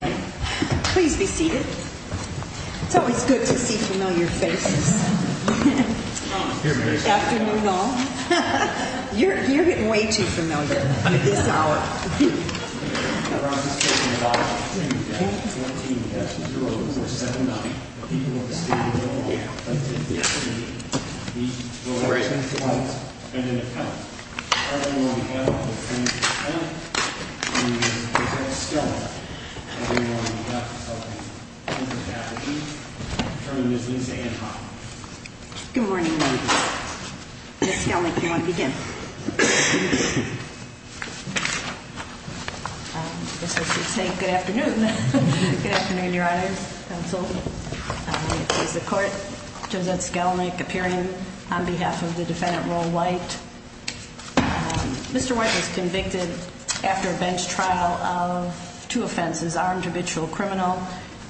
Please be seated. It's always good to see familiar faces. Afternoon all. You're getting way too familiar with this hour. Good morning ladies. Ms. Skelnick, do you want to begin? I guess I should say good afternoon. Good afternoon, Your Honor, counsel. It is the court, Josette Skelnick, appearing on behalf of the defendant Roll White. Mr. White was convicted after a bench trial of two offenses, armed habitual criminal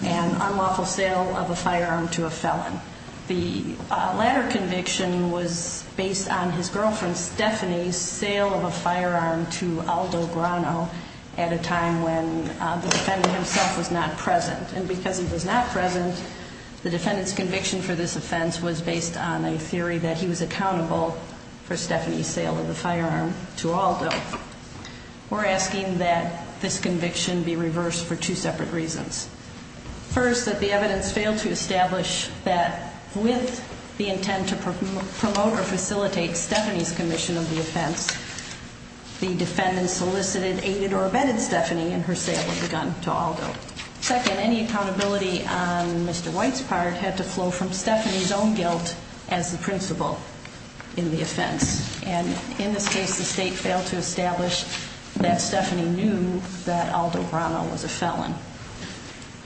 and unlawful sale of a firearm to a felon. The latter conviction was based on his girlfriend Stephanie's sale of a firearm to Aldo Grano at a time when the defendant himself was not present. And because he was not present, the defendant's conviction for this offense was based on a theory that he was accountable for Stephanie's sale of the firearm to Aldo. We're asking that this conviction be reversed for two separate reasons. First, that the evidence failed to establish that with the intent to promote or facilitate Stephanie's commission of the offense, the defendant solicited, aided or abetted Stephanie in her sale of the gun to Aldo. Second, any accountability on Mr. White's part had to flow from Stephanie's own guilt as the principal in the offense. And in this case, the state failed to establish that Stephanie knew that Aldo Grano was a felon.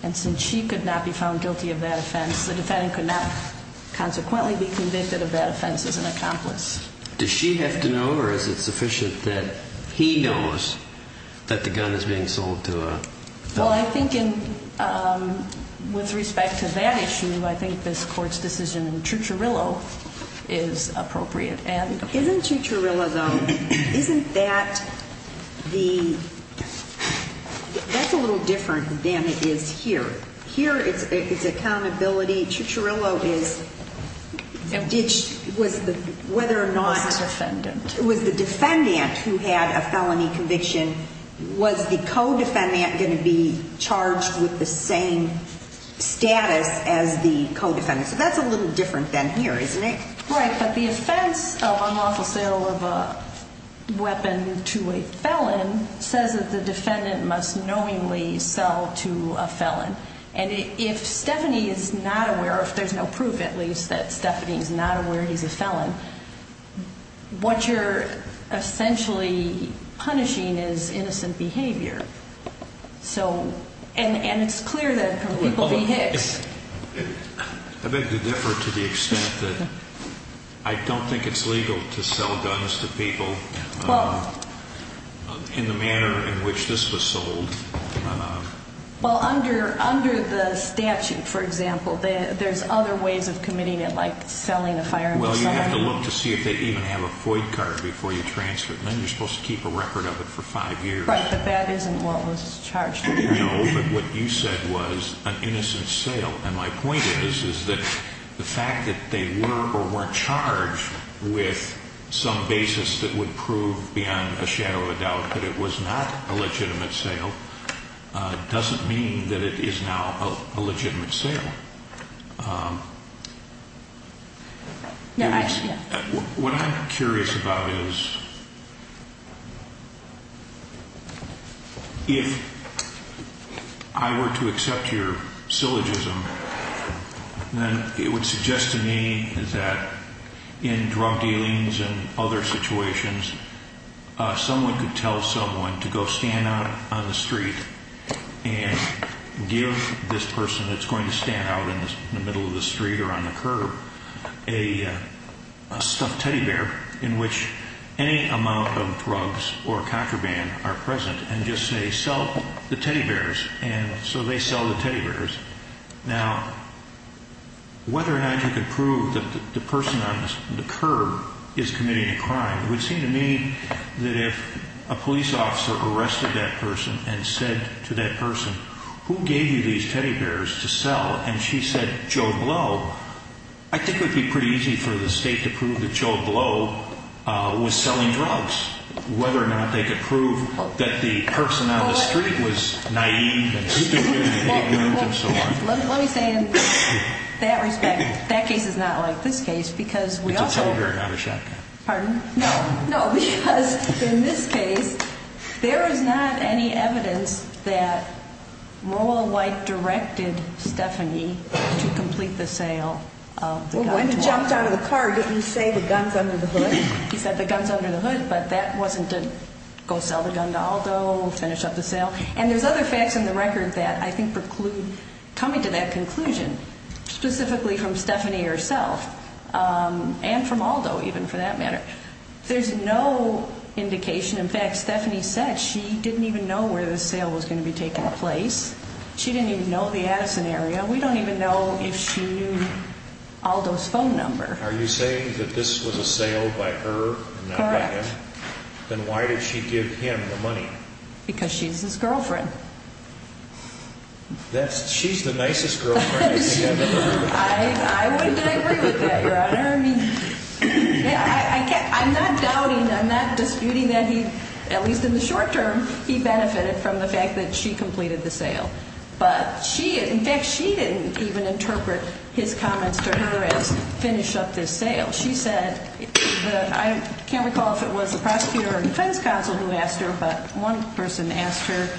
And since she could not be found guilty of that offense, the defendant could not consequently be convicted of that offense as an accomplice. Does she have to know or is it sufficient that he knows that the gun is being sold to a felon? Well, I think with respect to that issue, I think this court's decision in Cicciarillo is appropriate. Isn't Cicciarillo, though, isn't that the – that's a little different than it is here. Here it's accountability. Cicciarillo is – was the – whether or not – Was the defendant. Was the defendant who had a felony conviction, was the co-defendant going to be charged with the same status as the co-defendant? So that's a little different than here, isn't it? Right, but the offense of unlawful sale of a weapon to a felon says that the defendant must knowingly sell to a felon. And if Stephanie is not aware – or if there's no proof, at least, that Stephanie is not aware he's a felon, what you're essentially punishing is innocent behavior. So – and it's clear that people – I beg to differ to the extent that I don't think it's legal to sell guns to people in the manner in which this was sold. Well, under the statute, for example, there's other ways of committing it, like selling a firearm to somebody. Well, you have to look to see if they even have a FOIA card before you transfer it. And then you're supposed to keep a record of it for five years. Right, but that isn't what was charged with here. No, but what you said was an innocent sale. And my point is, is that the fact that they were or weren't charged with some basis that would prove beyond a shadow of a doubt that it was not a legitimate sale doesn't mean that it is now a legitimate sale. What I'm curious about is, if I were to accept your syllogism, then it would suggest to me that in drug dealings and other situations, someone could tell someone to go stand out on the street and give this person that's going to stand out in the middle of the street or on the curb a stuffed teddy bear in which any amount of drugs or contraband are present, and just say, sell the teddy bears. And so they sell the teddy bears. Now, whether or not you could prove that the person on the curb is committing a crime would seem to me that if a police officer arrested that person and said to that person, who gave you these teddy bears to sell, and she said Joe Blow, I think it would be pretty easy for the state to prove that Joe Blow was selling drugs. Whether or not they could prove that the person on the street was naive and stupid and he didn't know it and so on. Well, let me say in that respect, that case is not like this case because we also... It's a teddy bear, not a shotgun. Pardon? No, no, because in this case, there is not any evidence that Merle White directed Stephanie to complete the sale of the gun to her. Well, when he jumped out of the car, he didn't say the gun's under the hood. He said the gun's under the hood, but that wasn't to go sell the gun to Aldo, finish up the sale. And there's other facts in the record that I think preclude coming to that conclusion, specifically from Stephanie herself, and from Aldo even for that matter. There's no indication. In fact, Stephanie said she didn't even know where the sale was going to be taking place. She didn't even know the Addison area. We don't even know if she knew Aldo's phone number. Are you saying that this was a sale by her and not by him? Correct. Then why did she give him the money? Because she's his girlfriend. She's the nicest girlfriend you think I've ever heard of? I wouldn't agree with that, Your Honor. I'm not doubting, I'm not disputing that he, at least in the short term, he benefited from the fact that she completed the sale. In fact, she didn't even interpret his comments to her as finish up this sale. She said, I can't recall if it was the prosecutor or defense counsel who asked her, but one person asked her,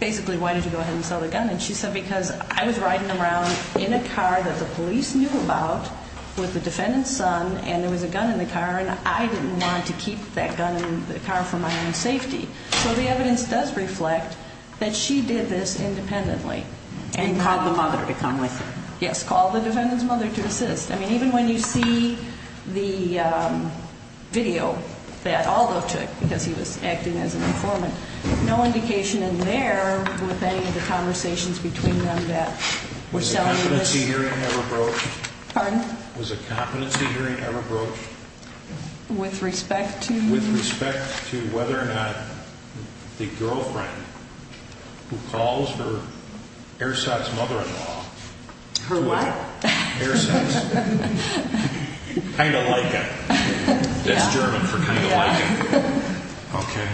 basically, why did you go ahead and sell the gun? And she said, because I was riding around in a car that the police knew about with the defendant's son, and there was a gun in the car, and I didn't want to keep that gun in the car for my own safety. So the evidence does reflect that she did this independently. And called the mother to come with her. Yes, called the defendant's mother to assist. I mean, even when you see the video that Aldo took, because he was acting as an informant, no indication in there with any of the conversations between them that were selling this. Was a competency hearing ever broached? Pardon? Was a competency hearing ever broached? With respect to? With respect to whether or not the girlfriend who calls her ersatz mother-in-law. Her what? Ersatz. Kind of like it. That's German for kind of like it. Okay.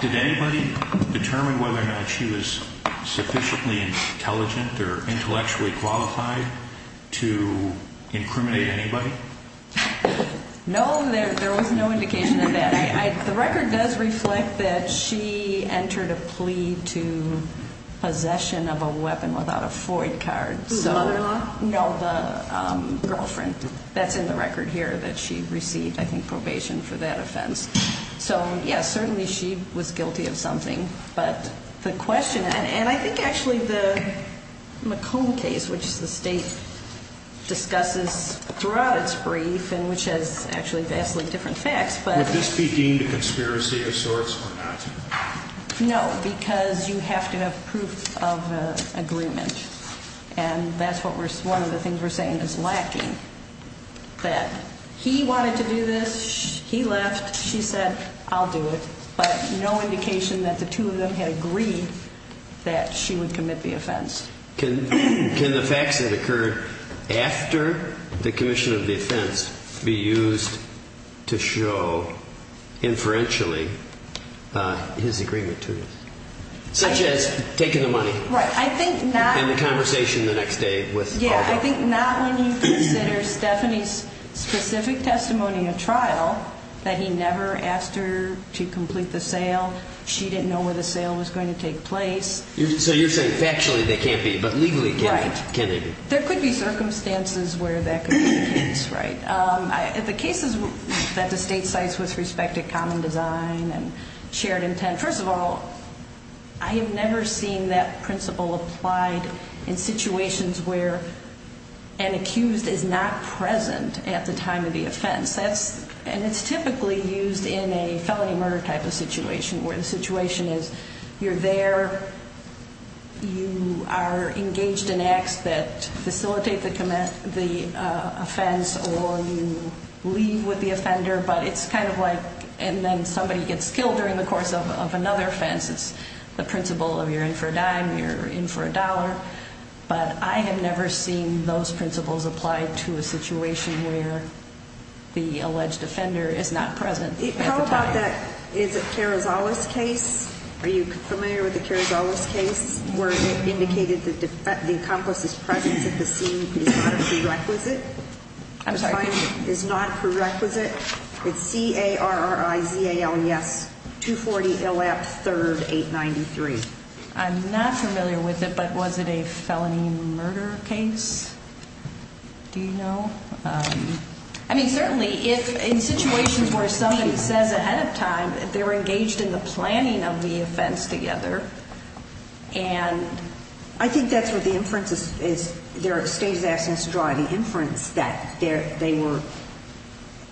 Did anybody determine whether or not she was sufficiently intelligent or intellectually qualified to incriminate anybody? No, there was no indication of that. The record does reflect that she entered a plea to possession of a weapon without a FOID card. The mother-in-law? No, the girlfriend. That's in the record here that she received, I think, probation for that offense. So, yes, certainly she was guilty of something. But the question, and I think actually the McComb case, which the state discusses throughout its brief and which has actually vastly different facts. Would this be deemed a conspiracy of sorts or not? No, because you have to have proof of agreement. And that's one of the things we're saying is lacking. That he wanted to do this. He left. She said, I'll do it. But no indication that the two of them had agreed that she would commit the offense. Can the facts that occurred after the commission of the offense be used to show inferentially his agreement to this? Such as taking the money? Right. And the conversation the next day with Alder? I think not when you consider Stephanie's specific testimony in a trial that he never asked her to complete the sale. She didn't know where the sale was going to take place. So you're saying factually they can't be, but legally can they be? Right. There could be circumstances where that could be the case, right? In the cases that the state cites with respect to common design and shared intent, first of all, I have never seen that principle applied in situations where an accused is not present at the time of the offense. And it's typically used in a felony murder type of situation where the situation is you're there, you are engaged in acts that facilitate the offense, or you leave with the offender. But it's kind of like, and then somebody gets killed during the course of another offense. It's the principle of you're in for a dime, you're in for a dollar. But I have never seen those principles applied to a situation where the alleged offender is not present at the time. How about that is it Carozales case? Are you familiar with the Carozales case where it indicated the accomplice's presence at the scene is not prerequisite? I'm sorry? At the time is not prerequisite? It's C-A-R-R-I-Z-A-L-E-S-240-L-F-3-893. I'm not familiar with it, but was it a felony murder case? Do you know? I mean, certainly if in situations where somebody says ahead of time they were engaged in the planning of the offense together and- I think that's where the inference is. The state is asking us to draw the inference that they were-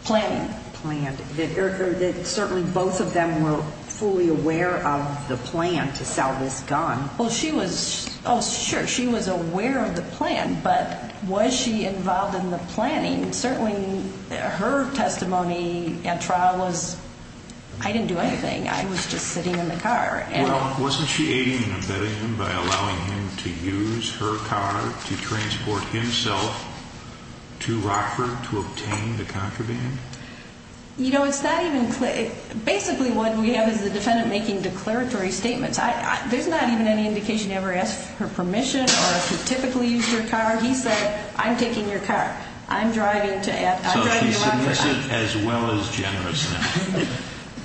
Planning. Planning. That certainly both of them were fully aware of the plan to sell this gun. Well, she was, oh, sure, she was aware of the plan, but was she involved in the planning? Certainly her testimony at trial was, I didn't do anything. I was just sitting in the car. Well, wasn't she aiding and abetting him by allowing him to use her car to transport himself to Rockford to obtain the contraband? You know, it's not even clear. Basically what we have is the defendant making declaratory statements. There's not even any indication he ever asked for permission or if he typically used her car. He said, I'm taking your car. I'm driving to- So he's submissive as well as generous.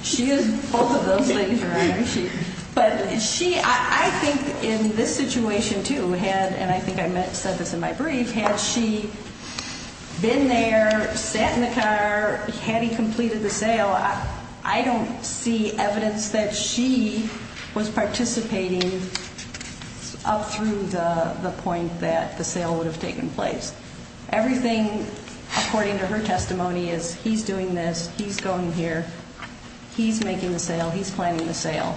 She is both of those things, Your Honor. But she, I think in this situation, too, had, and I think I said this in my brief, had she been there, sat in the car, had he completed the sale, I don't see evidence that she was participating up through the point that the sale would have taken place. Everything, according to her testimony, is he's doing this, he's going here, he's making the sale, he's planning the sale.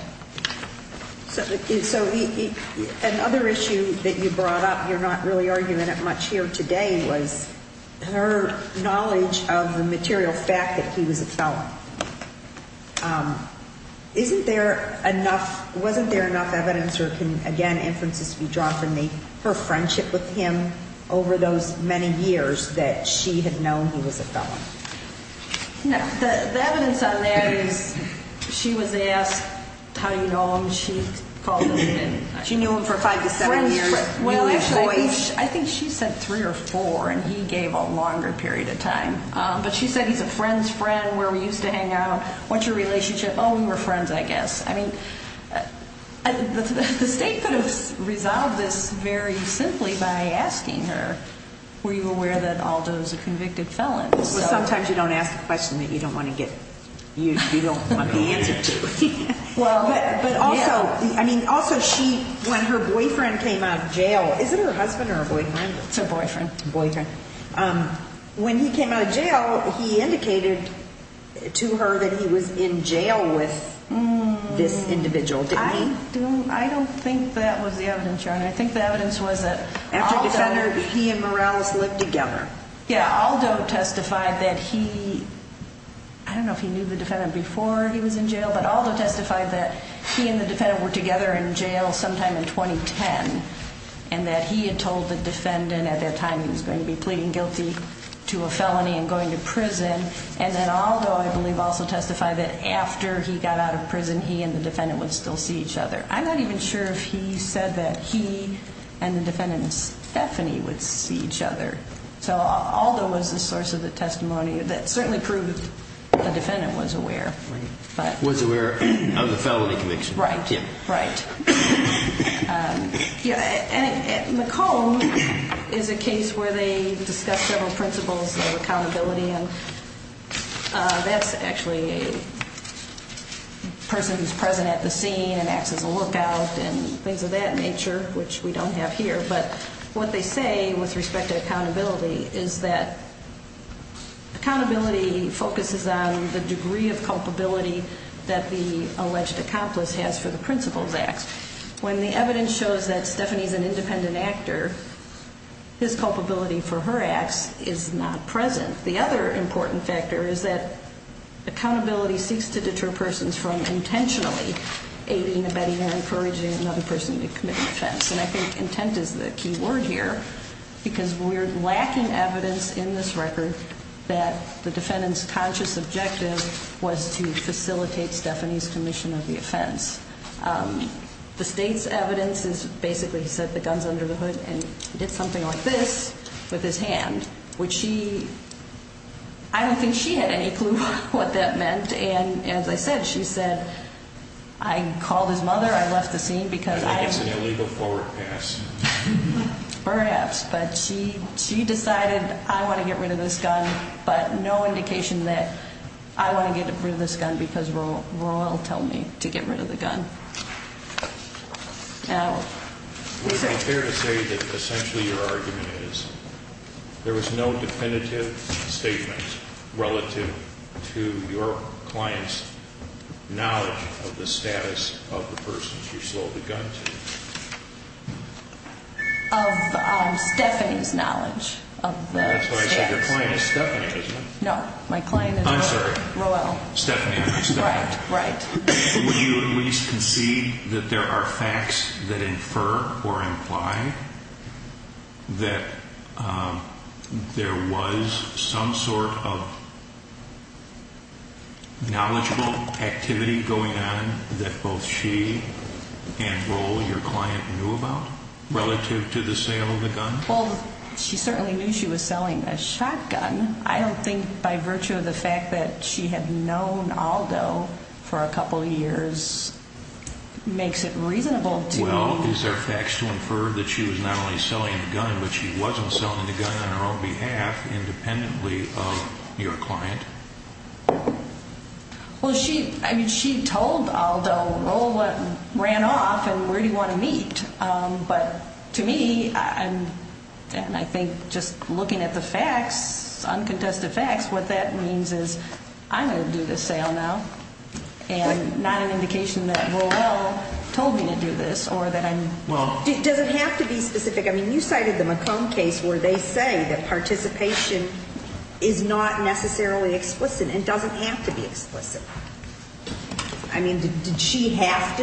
So another issue that you brought up, you're not really arguing it much here today, was her knowledge of the material fact that he was a felon. Isn't there enough, wasn't there enough evidence or can, again, inferences be drawn from her friendship with him over those many years that she had known he was a felon? No. The evidence on that is she was asked how you know him, she called him in. She knew him for five to seven years. Well, actually, I think she said three or four and he gave a longer period of time. But she said he's a friend's friend where we used to hang out. What's your relationship? Oh, we were friends, I guess. I mean, the state could have resolved this very simply by asking her, were you aware that Aldo's a convicted felon? Well, sometimes you don't ask a question that you don't want to get, you don't want the answer to. But also, I mean, also she, when her boyfriend came out of jail, is it her husband or her boyfriend? It's her boyfriend. Boyfriend. When he came out of jail, he indicated to her that he was in jail with this individual, didn't he? I don't think that was the evidence, Your Honor. I think the evidence was that Aldo. After Defender, he and Morales lived together. Yeah, Aldo testified that he, I don't know if he knew the defendant before he was in jail, but Aldo testified that he and the defendant were together in jail sometime in 2010, and that he had told the defendant at that time he was going to be pleading guilty to a felony and going to prison. And then Aldo, I believe, also testified that after he got out of prison, he and the defendant would still see each other. I'm not even sure if he said that he and the defendant, Stephanie, would see each other. So Aldo was the source of the testimony that certainly proved the defendant was aware. Was aware of the felony conviction. Right, right. McComb is a case where they discuss several principles of accountability, and that's actually a person who's present at the scene and acts as a lookout and things of that nature, which we don't have here. But what they say with respect to accountability is that accountability focuses on the degree of culpability that the alleged accomplice has for the principal's acts. When the evidence shows that Stephanie's an independent actor, his culpability for her acts is not present. The other important factor is that accountability seeks to deter persons from intentionally aiding, abetting, or encouraging another person to commit an offense. And I think intent is the key word here, because we're lacking evidence in this record that the defendant's conscious objective was to facilitate Stephanie's commission of the offense. The state's evidence is basically he said the gun's under the hood and did something like this with his hand, which she, I don't think she had any clue what that meant. And as I said, she said, I called his mother, I left the scene because I- Incidentally, before it passed. Perhaps, but she decided I want to get rid of this gun, but no indication that I want to get rid of this gun because Roel told me to get rid of the gun. Now- Would it be fair to say that essentially your argument is there was no definitive statement relative to your client's knowledge of the status of the person she sold the gun to? Of Stephanie's knowledge of the status. That's why I said your client is Stephanie, isn't it? No, my client is Roel. I'm sorry, Stephanie. Right, right. Would you at least concede that there are facts that infer or imply that there was some sort of knowledgeable activity going on that both she and Roel, your client, knew about relative to the sale of the gun? Well, she certainly knew she was selling a shotgun. I don't think by virtue of the fact that she had known Aldo for a couple of years makes it reasonable to- Well, is there facts to infer that she was not only selling the gun, but she wasn't selling the gun on her own behalf independently of your client? Well, she told Aldo, Roel ran off and where do you want to meet? But to me, and I think just looking at the facts, uncontested facts, what that means is I'm going to do this sale now and not an indication that Roel told me to do this or that I'm- Well- Does it have to be specific? I mean, you cited the McComb case where they say that participation is not necessarily explicit and doesn't have to be explicit. I mean, did she have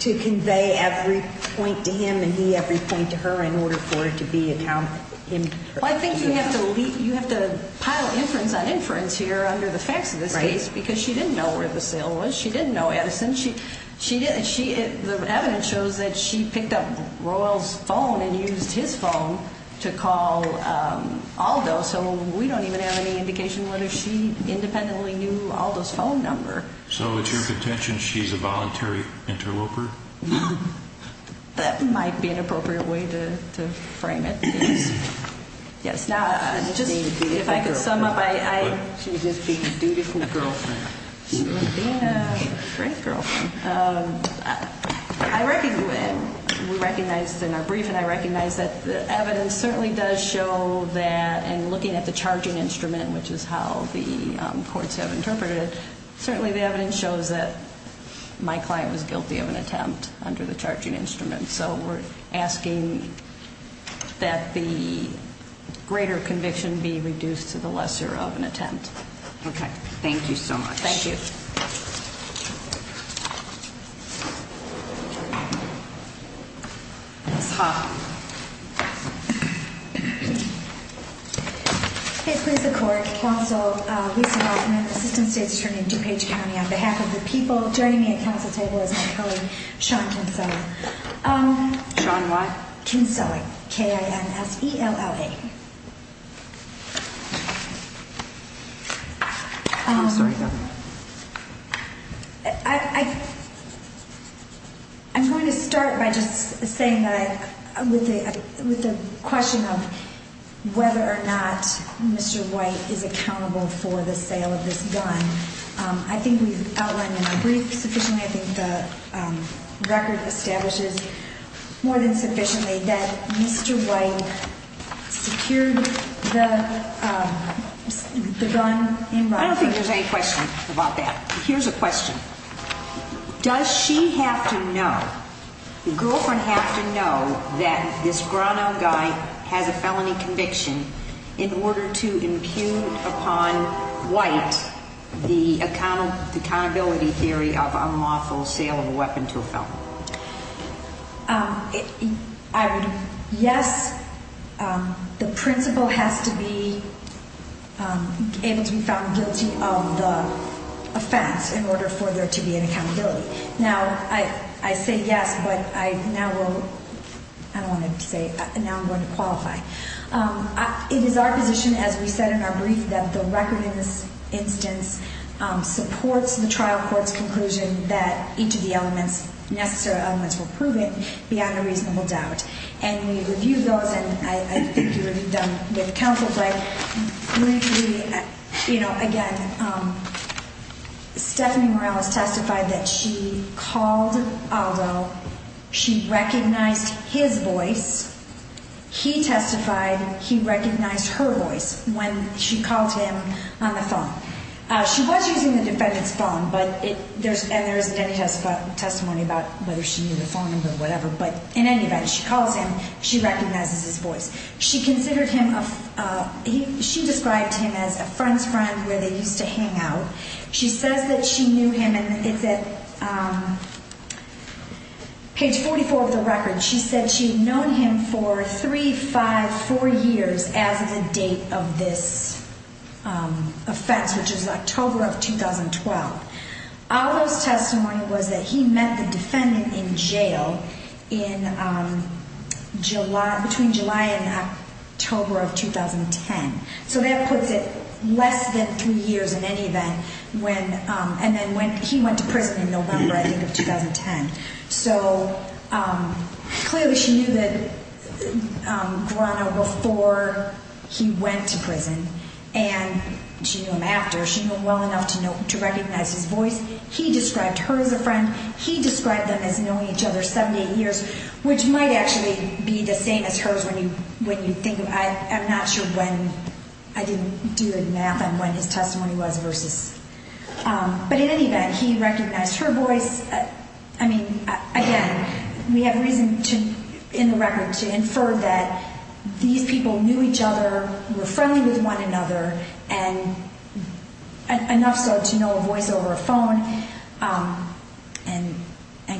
to convey every point to him and he every point to her in order for it to be- Well, I think you have to pile inference on inference here under the facts of this case because she didn't know where the sale was. She didn't know Edison. The evidence shows that she picked up Roel's phone and used his phone to call Aldo. So, we don't even have any indication whether she independently knew Aldo's phone number. So, it's your contention she's a voluntary interloper? That might be an appropriate way to frame it. Yes. Now, if I could sum up, I- She was just being a dutiful girlfriend. She was being a great girlfriend. I recognize, in our briefing, I recognize that the evidence certainly does show that, and looking at the charging instrument, which is how the courts have interpreted it, certainly the evidence shows that my client was guilty of an attempt under the charging instrument. So, we're asking that the greater conviction be reduced to the lesser of an attempt. Okay. Thank you so much. Thank you. Ms. Hoffman. It please the court. Counsel Lisa Hoffman, Assistant State Attorney, DuPage County. On behalf of the people joining me at council table as my colleague, Sean Kinsella. Sean what? Kinsella. K-I-N-S-E-L-L-A. I'm sorry, go ahead. I'm going to start by just saying that with the question of whether or not Mr. White is accountable for the sale of this gun, I think we've outlined in our brief sufficiently, I think the record establishes more than sufficiently, that Mr. White secured the gun in Roe v. Wade. I don't think there's any question about that. Here's a question. Does she have to know, the girlfriend have to know that this brown-eyed guy has a felony conviction in order to impugn upon White the accountability theory of unlawful sale of a weapon to a felon? I would, yes, the principal has to be able to be found guilty of the offense in order for there to be an accountability. Now, I say yes, but I now will, I don't want to say, now I'm going to qualify. It is our position as we said in our brief that the record in this instance supports the trial court's conclusion that each of the elements, necessary elements were proven beyond a reasonable doubt. And we reviewed those, and I think you reviewed them with counsel. But, you know, again, Stephanie Morales testified that she called Aldo. She recognized his voice. He testified he recognized her voice when she called him on the phone. She was using the defendant's phone, and there isn't any testimony about whether she knew the phone number or whatever. But in any event, she calls him, she recognizes his voice. She considered him, she described him as a friend's friend where they used to hang out. She says that she knew him, and it's at page 44 of the record. She said she had known him for three, five, four years as of the date of this offense, which is October of 2012. Aldo's testimony was that he met the defendant in jail in July, between July and October of 2010. So that puts it less than three years in any event when, and then when he went to prison in November, I think, of 2010. So clearly she knew that Grano before he went to prison, and she knew him after. She knew him well enough to recognize his voice. He described her as a friend. He described them as knowing each other 78 years, which might actually be the same as hers when you think of it. I'm not sure when. I didn't do the math on when his testimony was versus. But in any event, he recognized her voice. I mean, again, we have reason to, in the record, to infer that these people knew each other, were friendly with one another, and enough so to know a voice over a phone and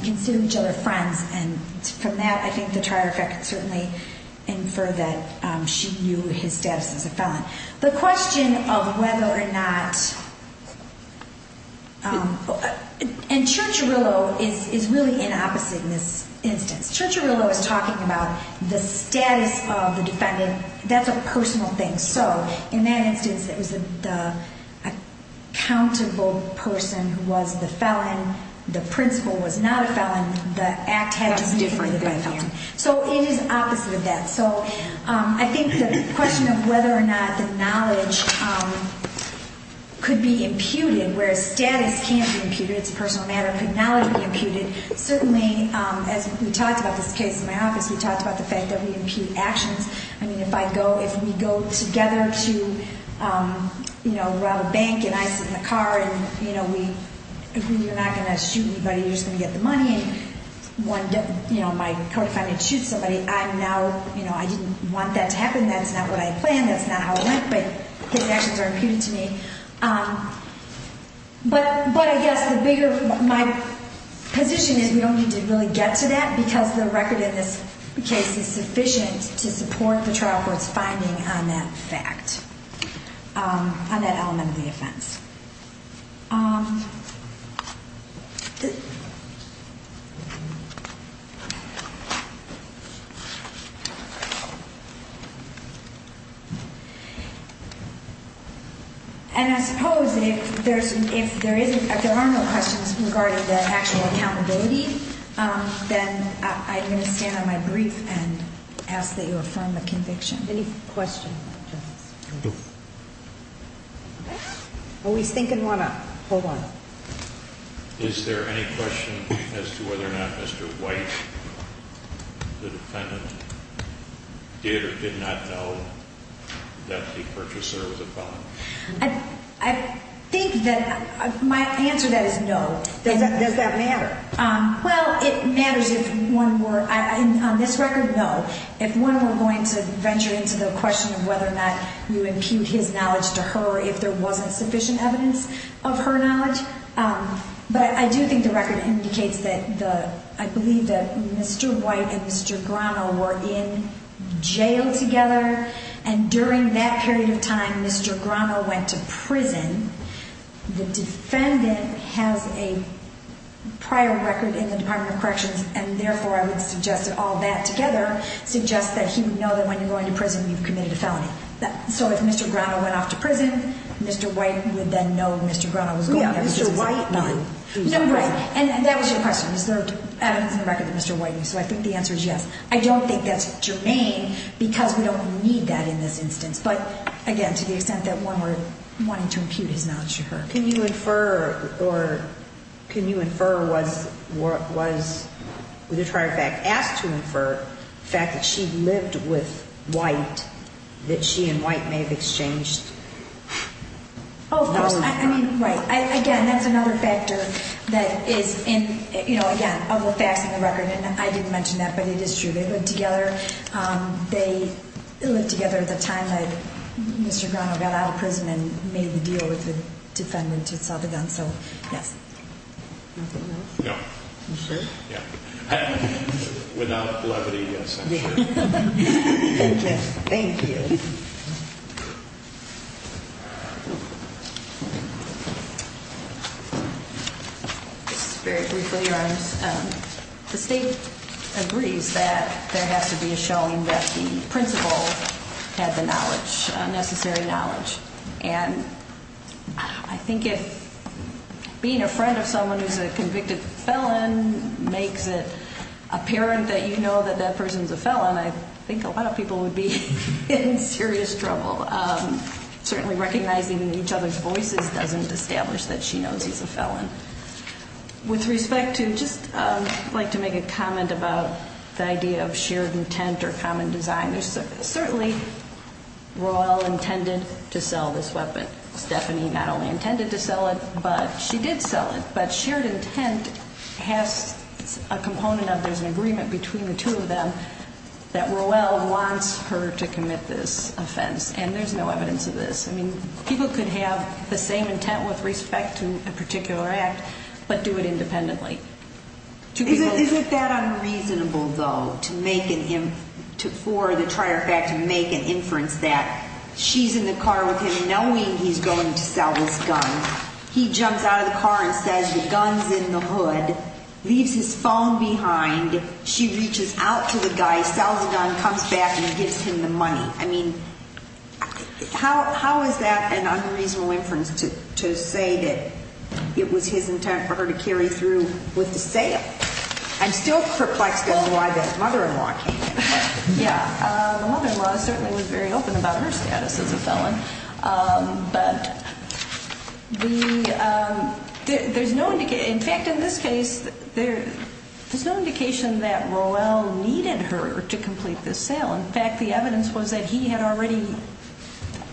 consider each other friends. And from that, I think the trier effect can certainly infer that she knew his status as a felon. The question of whether or not, and Church-Arillo is really inopposite in this instance. Church-Arillo is talking about the status of the defendant. That's a personal thing. So in that instance, it was the accountable person who was the felon. The principal was not a felon. The act had to be different. So it is opposite of that. So I think the question of whether or not the knowledge could be imputed, whereas status can't be imputed. It's a personal matter. Could knowledge be imputed? Certainly, as we talked about this case in my office, we talked about the fact that we impute actions. I mean, if we go together to rob a bank and I sit in the car and you're not going to shoot anybody, you're just going to get the money. You know, my co-defendant shoots somebody. I'm now, you know, I didn't want that to happen. That's not what I planned. That's not how it went. But his actions are imputed to me. But I guess the bigger, my position is we don't need to really get to that because the record in this case is sufficient to support the trial court's finding on that fact, on that element of the offense. And I suppose if there's, if there isn't, if there are no questions regarding the actual accountability, then I'm going to stand on my brief and ask that you affirm the conviction. Any questions? Well, he's thinking one up. Hold on. Is there any question as to whether or not Mr. White, the defendant, did or did not know that the purchaser was a felon? I think that my answer to that is no. Does that matter? Well, it matters if one were, on this record, no. If one were going to venture into the question of whether or not you impute his knowledge to her if there wasn't sufficient evidence of her knowledge. But I do think the record indicates that the, I believe that Mr. White and Mr. Grano were in jail together. And during that period of time, Mr. Grano went to prison. The defendant has a prior record in the Department of Corrections, and therefore I would suggest that all that together suggests that he would know that when you're going to prison, you've committed a felony. So if Mr. Grano went off to prison, Mr. White would then know Mr. Grano was going there because he's a felon. Yeah, Mr. White knew. No, right. And that was your question. Is there evidence in the record that Mr. White knew? So I think the answer is yes. I don't think that's germane because we don't need that in this instance. But, again, to the extent that one were wanting to impute his knowledge to her. Can you infer, or can you infer, was, as a matter of fact, asked to infer the fact that she lived with White, that she and White may have exchanged knowledge? Oh, of course. I mean, right. Again, that's another factor that is in, you know, again, of the facts in the record. And I didn't mention that, but it is true. They lived together. They lived together at the time that Mr. Grano got out of prison and made the deal with the defendant who saw the gun. So, yes. Nothing else? No. You sure? Yeah. Without levity, yes, I'm sure. Thank you. Thank you. This is very briefly, Your Honors. The state agrees that there has to be a showing that the principal had the knowledge, necessary knowledge. And I think if being a friend of someone who's a convicted felon makes it apparent that you know that that person's a felon, I think a lot of people would be in serious trouble. Certainly, recognizing each other's voices doesn't establish that she knows he's a felon. With respect to, I'd just like to make a comment about the idea of shared intent or common design. Certainly, Roell intended to sell this weapon. Stephanie not only intended to sell it, but she did sell it. But shared intent has a component of there's an agreement between the two of them that Roell wants her to commit this offense. And there's no evidence of this. I mean, people could have the same intent with respect to a particular act, but do it independently. Isn't that unreasonable, though, for the trier fact to make an inference that she's in the car with him knowing he's going to sell this gun? He jumps out of the car and says the gun's in the hood, leaves his phone behind. She reaches out to the guy, sells the gun, comes back and gives him the money. I mean, how is that an unreasonable inference to say that it was his intent for her to carry through with the sale? I'm still perplexed as to why the mother-in-law came in. Yeah. The mother-in-law certainly was very open about her status as a felon. But there's no indication. In fact, in this case, there's no indication that Roell needed her to complete this sale. In fact, the evidence was that he had already,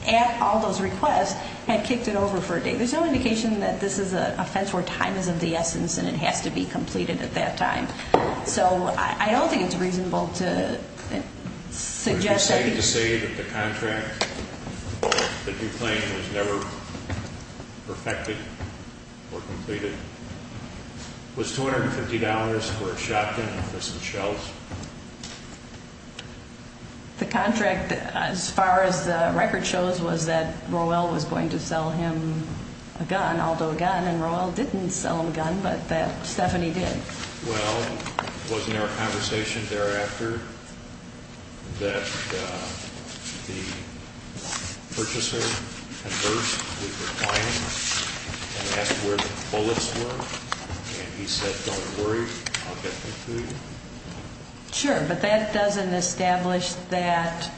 at Aldo's request, had kicked it over for a day. There's no indication that this is an offense where time is of the essence and it has to be completed at that time. So, I don't think it's reasonable to suggest that he Would you say that the contract that you claim was never perfected or completed was $250 for a shotgun and for some shells? The contract, as far as the record shows, was that Roell was going to sell him a gun, Aldo a gun, and Roell didn't sell him a gun, but that Stephanie did. Well, wasn't there a conversation thereafter that the purchaser conversed with the client and asked where the bullets were? And he said, don't worry, I'll get them to you? Sure, but that doesn't establish that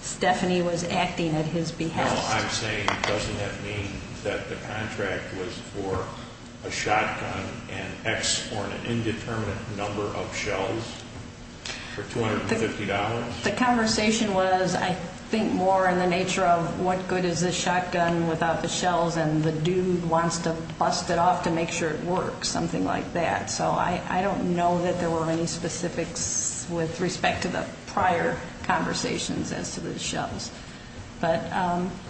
Stephanie was acting at his behest. I'm saying, doesn't that mean that the contract was for a shotgun and X or an indeterminate number of shells for $250? The conversation was, I think, more in the nature of what good is this shotgun without the shells and the dude wants to bust it off to make sure it works, something like that. So, I don't know that there were any specifics with respect to the prior conversations as to the shells. But,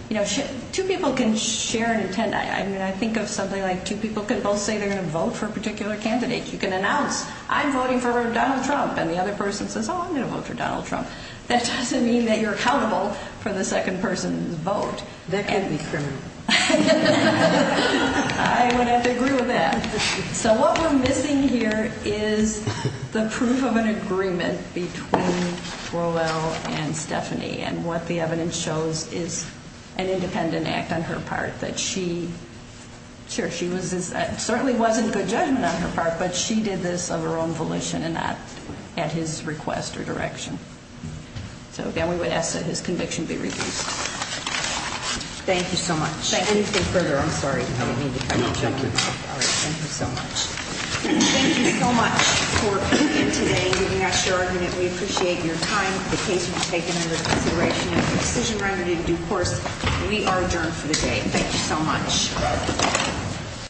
you know, two people can share an intent. I mean, I think of something like two people can both say they're going to vote for a particular candidate. You can announce, I'm voting for Donald Trump, and the other person says, oh, I'm going to vote for Donald Trump. That doesn't mean that you're accountable for the second person's vote. That could be criminal. I would have to agree with that. So, what we're missing here is the proof of an agreement between Rowell and Stephanie. And what the evidence shows is an independent act on her part that she, sure, she certainly wasn't good judgment on her part. But she did this of her own volition and not at his request or direction. So, again, we would ask that his conviction be reduced. Thank you so much. Thank you. Anything further? I'm sorry. No, thank you. All right. Thank you so much. Thank you so much for being here today and giving us your argument. We appreciate your time. The case was taken under consideration as a decision remedy in due course. We are adjourned for the day. Thank you so much.